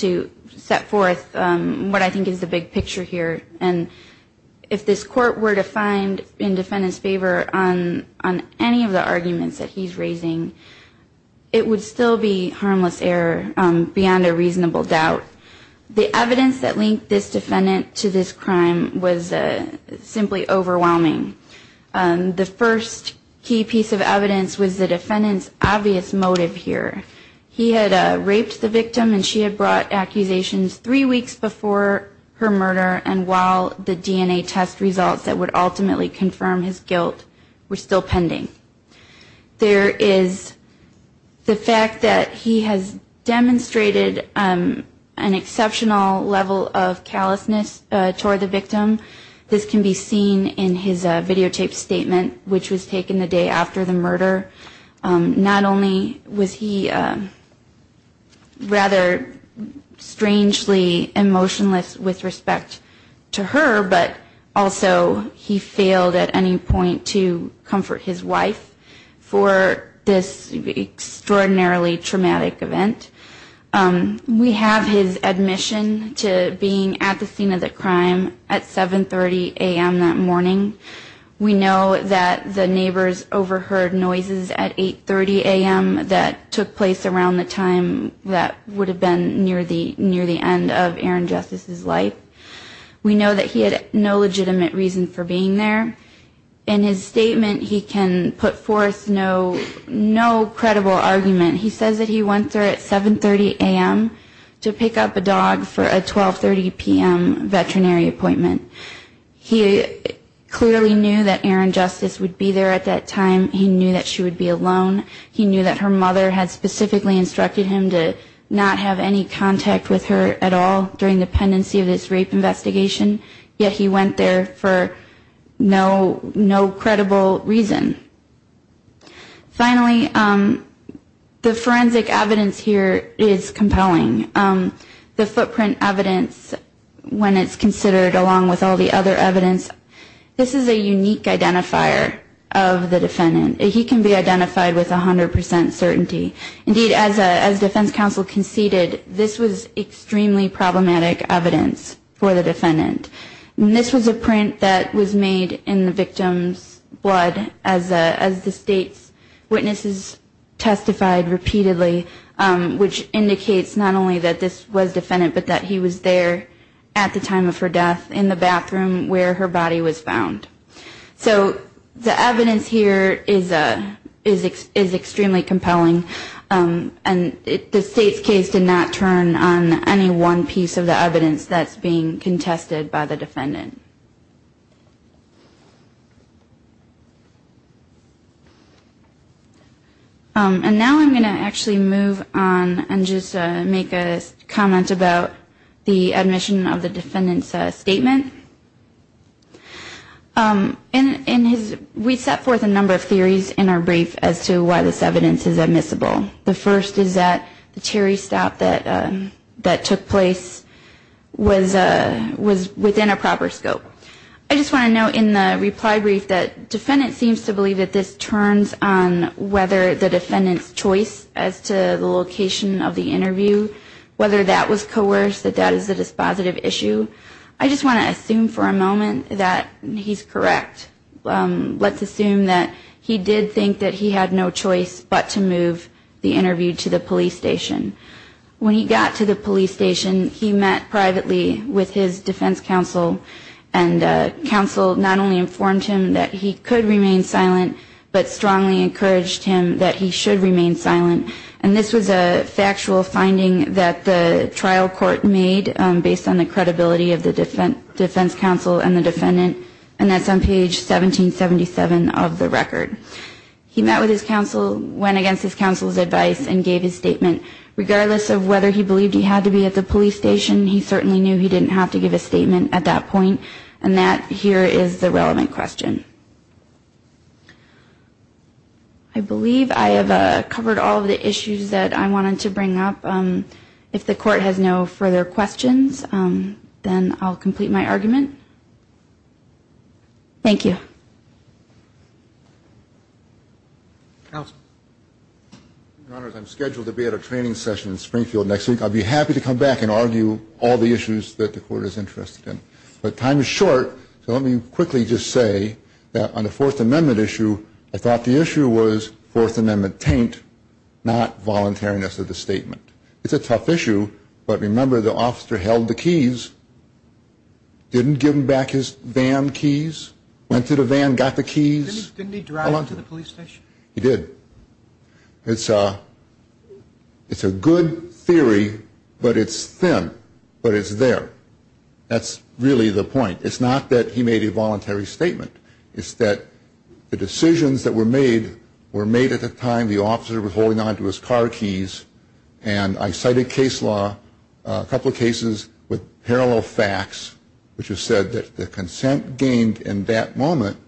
to set forth what I think is the big picture here. And if this court were to find in defendant's favor on any of the arguments that he's raising, it would still be harmless error beyond a reasonable doubt. The evidence that linked this defendant to this crime was simply overwhelming. The first key piece of evidence was the defendant's obvious motive here. He had raped the victim, and she had brought accusations three weeks before her murder, and while the DNA test results that would ultimately confirm his guilt were still pending. There is the fact that he has demonstrated an exceptional level of callousness toward the victim. This can be seen in his videotaped statement, which was taken the day after the murder. Not only was he rather strangely emotionless with respect to her, but also he failed at any point to comfort his wife for this extraordinarily traumatic event. We have his admission to being at the scene of the crime at 7.30 a.m. that morning. We know that the neighbors overheard noises at 8.30 a.m. that took place around the time that would have been near the end of Erin Justice's life. We know that he had no legitimate reason for being there. In his statement, he can put forth no credible argument. He says that he went there at 7.30 a.m. to pick up a dog for a 12.30 p.m. veterinary appointment. He clearly knew that Erin Justice would be there at that time. He knew that she would be alone. He knew that her mother had specifically instructed him to not have any contact with her at all during the pendency of this rape investigation, yet he went there for no credible reason. Finally, the forensic evidence here is compelling. The footprint evidence, when it's considered along with all the other evidence, this is a unique identifier of the defendant. He can be identified with 100 percent certainty. Indeed, as defense counsel conceded, this was extremely problematic evidence for the defendant. This was a print that was made in the victim's blood as the state's witnesses testified repeatedly, which indicates not only that the victim's blood was not the defendant's, but that he was there at the time of her death in the bathroom where her body was found. So the evidence here is extremely compelling, and the state's case did not turn on any one piece of the evidence that's being contested by the defendant. And now I'm going to actually move on and just make a comment about the admission of the defendant's statement. We set forth a number of theories in our brief as to why this evidence is admissible. The first is that the Terry stop that took place was within a proper scope. I just want to note in the reply brief that the defendant seems to believe that this turns on whether the defendant's choice as to the location of the interview, whether that was coerced, that that is a dispositive issue. I just want to assume for a moment that he's correct. Let's assume that he did think that he had no choice but to move the interview to the police station. When he got to the police station, he met privately with his defense counsel, and counsel not only informed him that he could remain silent, but strongly encouraged him that he should remain silent. And this was a factual finding that the trial court made based on the credibility of the defense counsel and the defendant. And that's on page 1777 of the record. He met with his counsel, went against his counsel's advice and gave his statement. Regardless of whether he believed he had to be at the police station, he certainly knew he didn't have to give a statement at that point. And that here is the relevant question. I believe I have covered all of the issues that I wanted to bring up. If the court has no further questions, then I'll complete my argument. Thank you. Counsel. Your Honor, I'm scheduled to be at a training session in Springfield next week. I'll be happy to come back and argue all the issues that the court is interested in. But time is short, so let me quickly just say that on the Fourth Amendment issue, I thought the issue was Fourth Amendment taint, not voluntariness of the statement. It's a tough issue, but remember the officer held the keys, didn't give him back his van keys, went to the van, got the keys. Didn't he drive to the police station? He did. It's a good theory, but it's thin, but it's there. That's really the point. It's not that he made a voluntary statement. It's that the decisions that were made were made at the time the officer was holding on to his car keys. And I cited case law, a couple of cases with parallel facts, which have said that the consent gained in that moment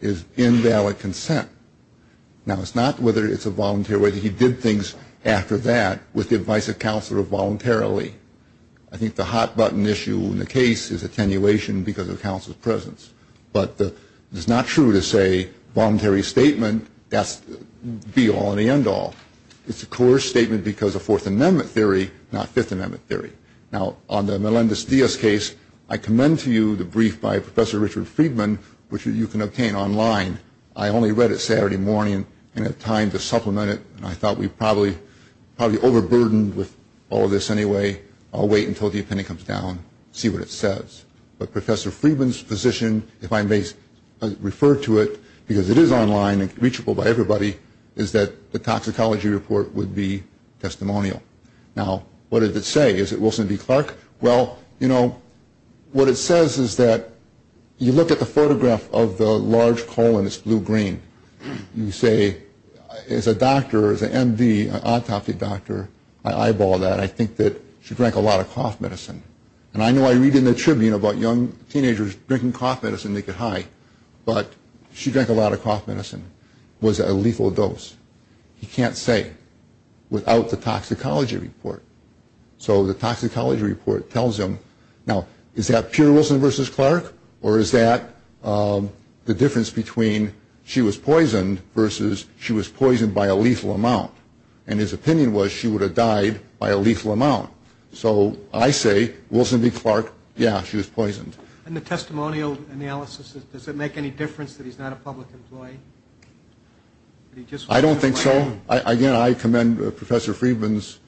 is invalid consent. Now, it's not whether it's a volunteer, whether he did things after that with the advice of counsel or voluntarily. I think the hot button issue in the case is attenuation because of counsel's presence. But it's not true to say voluntary statement, that's be all and the end all. It's a coerced statement because of Fourth Amendment theory, not Fifth Amendment theory. Now, on the Melendez-Diaz case, I commend to you the brief by Professor Richard Friedman, which you can obtain online. I only read it Saturday morning and had time to supplement it, and I thought we probably overburdened with all of this anyway. I'll wait until the opinion comes down, see what it says. But Professor Friedman's position, if I may refer to it, because it is online and reachable by everybody, is that the toxicology report would be testimonial. Now, what does it say? Is it Wilson v. Clark? Well, you know, what it says is that you look at the photograph of the large colon, it's blue-green. You say, as a doctor, as an MD, an autopsy doctor, I eyeball that. I think that she drank a lot of cough medicine. And I know I read in the Tribune about young teenagers drinking cough medicine to get high, but she drank a lot of cough medicine. It was a lethal dose. He can't say without the toxicology report. So the toxicology report tells him. Now, is that pure Wilson v. Clark, or is that the difference between she was poisoned versus she was poisoned by a lethal amount? And his opinion was she would have died by a lethal amount. So I say, Wilson v. Clark, yeah, she was poisoned. And the testimonial analysis, does it make any difference that he's not a public employee? I don't think so. Again, I commend Professor Friedman's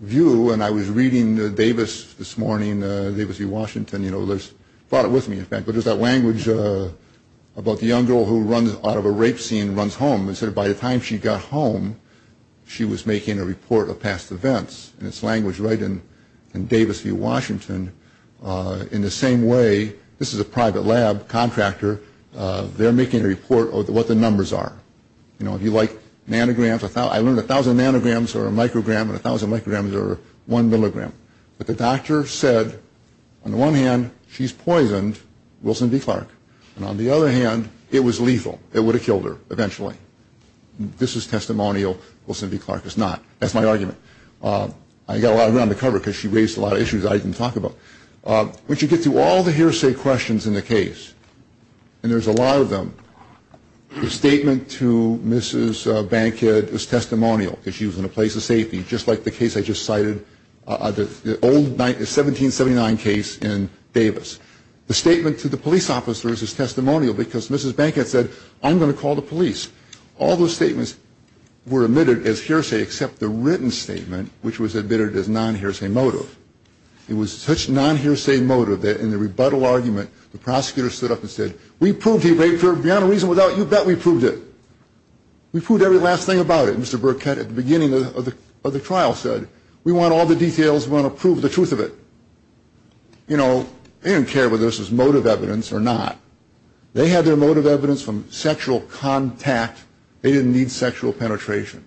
view, and I was reading Davis this morning, Davis v. Washington, you know, brought it with me, in fact, but there's that language about the young girl who runs out of a rape scene and runs home. And so by the time she got home, she was making a report of past events. And it's language right in Davis v. Washington. In the same way, this is a private lab contractor. They're making a report of what the numbers are. You know, if you like nanograms, I learned 1,000 nanograms are a microgram, and 1,000 micrograms are one milligram. But the doctor said, on the one hand, she's poisoned, Wilson v. Clark. And on the other hand, it was lethal. It would have killed her eventually. This is testimonial. Wilson v. Clark is not. That's my argument. I got a lot of ground to cover because she raised a lot of issues I didn't talk about. When you get to all the hearsay questions in the case, and there's a lot of them, the statement to Mrs. Bankhead is testimonial because she was in a place of safety, just like the case I just cited, the old 1779 case in Davis. The statement to the police officers is testimonial because Mrs. Bankhead said, I'm going to call the police. All those statements were admitted as hearsay except the written statement, which was admitted as non-hearsay motive. It was such non-hearsay motive that in the rebuttal argument, the prosecutor stood up and said, we proved he raped her beyond a reason. Without your bet, we proved it. We proved every last thing about it. Mr. Burkett at the beginning of the trial said, we want all the details. We want to prove the truth of it. You know, they didn't care whether this was motive evidence or not. They had their motive evidence from sexual contact. They didn't need sexual penetration.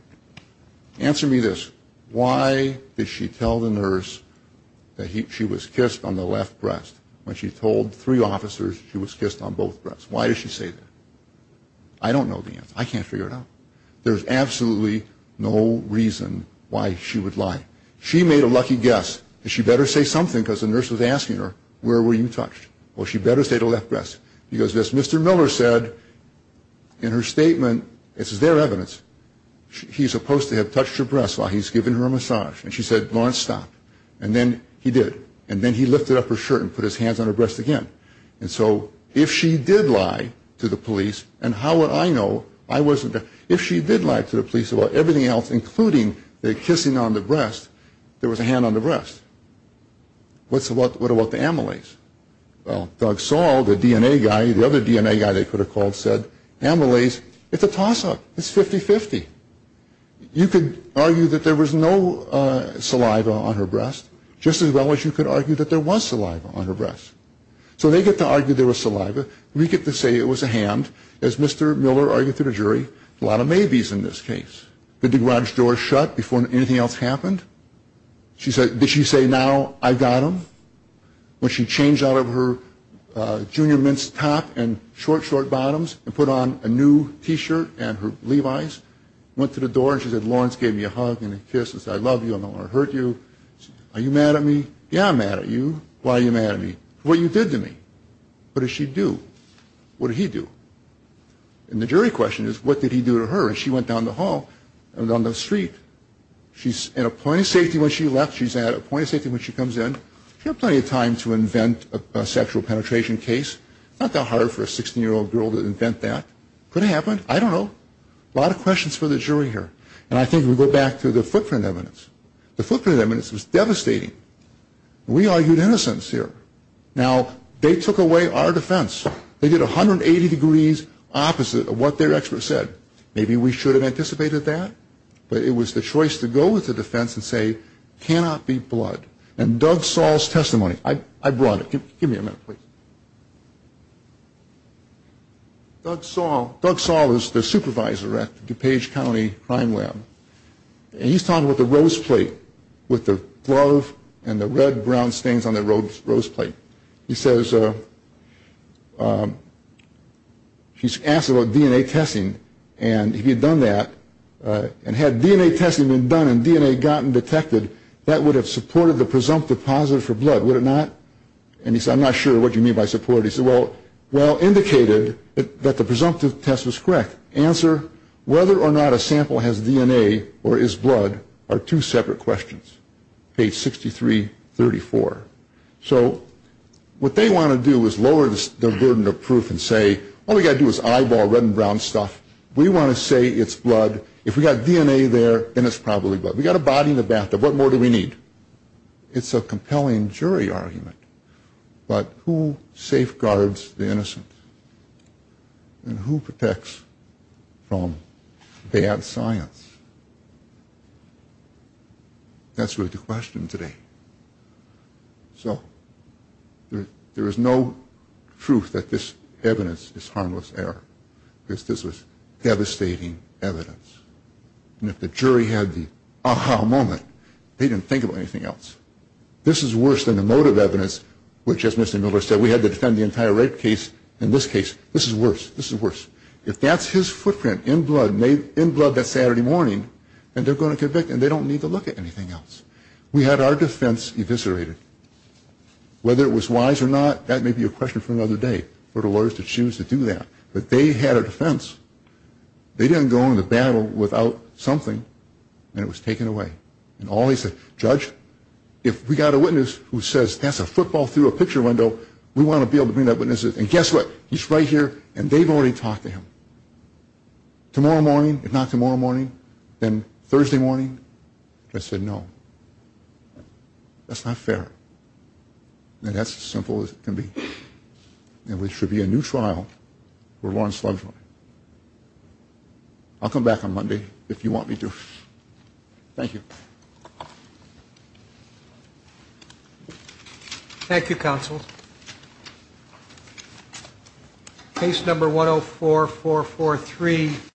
Answer me this. Why did she tell the nurse that she was kissed on the left breast when she told three officers she was kissed on both breasts? Why did she say that? I don't know the answer. I can't figure it out. There's absolutely no reason why she would lie. She made a lucky guess. She better say something because the nurse was asking her, where were you touched? Well, she better say the left breast. She goes, Mr. Miller said in her statement, this is their evidence, he's supposed to have touched her breast while he's giving her a massage. And she said, Lawrence, stop. And then he did. And then he lifted up her shirt and put his hands on her breast again. And so if she did lie to the police, and how would I know? If she did lie to the police about everything else, including the kissing on the breast, there was a hand on the breast. What about the amylase? Well, Doug Saul, the DNA guy, the other DNA guy they could have called, said amylase, it's a toss-up. It's 50-50. You could argue that there was no saliva on her breast, just as well as you could argue that there was saliva on her breast. So they get to argue there was saliva. We get to say it was a hand. As Mr. Miller argued through the jury, a lot of maybes in this case. The garage door shut before anything else happened. Did she say, now I got him? When she changed out of her junior men's top and short, short bottoms and put on a new T-shirt and her Levi's, went to the door and she said, Lawrence gave me a hug and a kiss and said, I love you. I don't want to hurt you. Are you mad at me? Yeah, I'm mad at you. Why are you mad at me? What you did to me. What did she do? What did he do? And the jury question is, what did he do to her? And she went down the hall and down the street. She's in a point of safety when she left. She's at a point of safety when she comes in. She had plenty of time to invent a sexual penetration case. It's not that hard for a 16-year-old girl to invent that. Could it happen? I don't know. A lot of questions for the jury here. And I think we go back to the footprint evidence. The footprint evidence was devastating. We argued innocence here. Now, they took away our defense. They did 180 degrees opposite of what their expert said. Maybe we should have anticipated that. But it was the choice to go with the defense and say, cannot be blood. And Doug Saul's testimony. I brought it. Give me a minute, please. Doug Saul is the supervisor at DuPage County Crime Lab. And he's talking about the rose plate with the glove and the red-brown stains on the rose plate. He says he's asked about DNA testing. And he had done that. And had DNA testing been done and DNA gotten detected, that would have supported the presumptive positive for blood, would it not? And he said, I'm not sure what you mean by supported. He said, well, indicated that the presumptive test was correct. Answer, whether or not a sample has DNA or is blood are two separate questions. Page 6334. So what they want to do is lower the burden of proof and say, all we've got to do is eyeball red and brown stuff. We want to say it's blood. If we've got DNA there, then it's probably blood. We've got a body in the bathtub. What more do we need? It's a compelling jury argument. But who safeguards the innocent? And who protects from bad science? That's really the question today. So there is no truth that this evidence is harmless error. This was devastating evidence. And if the jury had the aha moment, they didn't think of anything else. This is worse than the motive evidence, which, as Mr. Miller said, we had to defend the entire rape case. In this case, this is worse. This is worse. If that's his footprint in blood that Saturday morning, then they're going to convict him. They don't need to look at anything else. We had our defense eviscerated. Whether it was wise or not, that may be a question for another day, for the lawyers to choose to do that. But they had a defense. They didn't go into battle without something, and it was taken away. And all he said, judge, if we've got a witness who says that's a football through a picture window, we want to be able to bring that witness in. And guess what? He's right here, and they've already talked to him. Tomorrow morning, if not tomorrow morning, then Thursday morning, they said no. That's not fair. And that's as simple as it can be. And there should be a new trial where Lawrence loves me. I'll come back on Monday if you want me to. Thank you. Thank you, counsel. Case number 104443.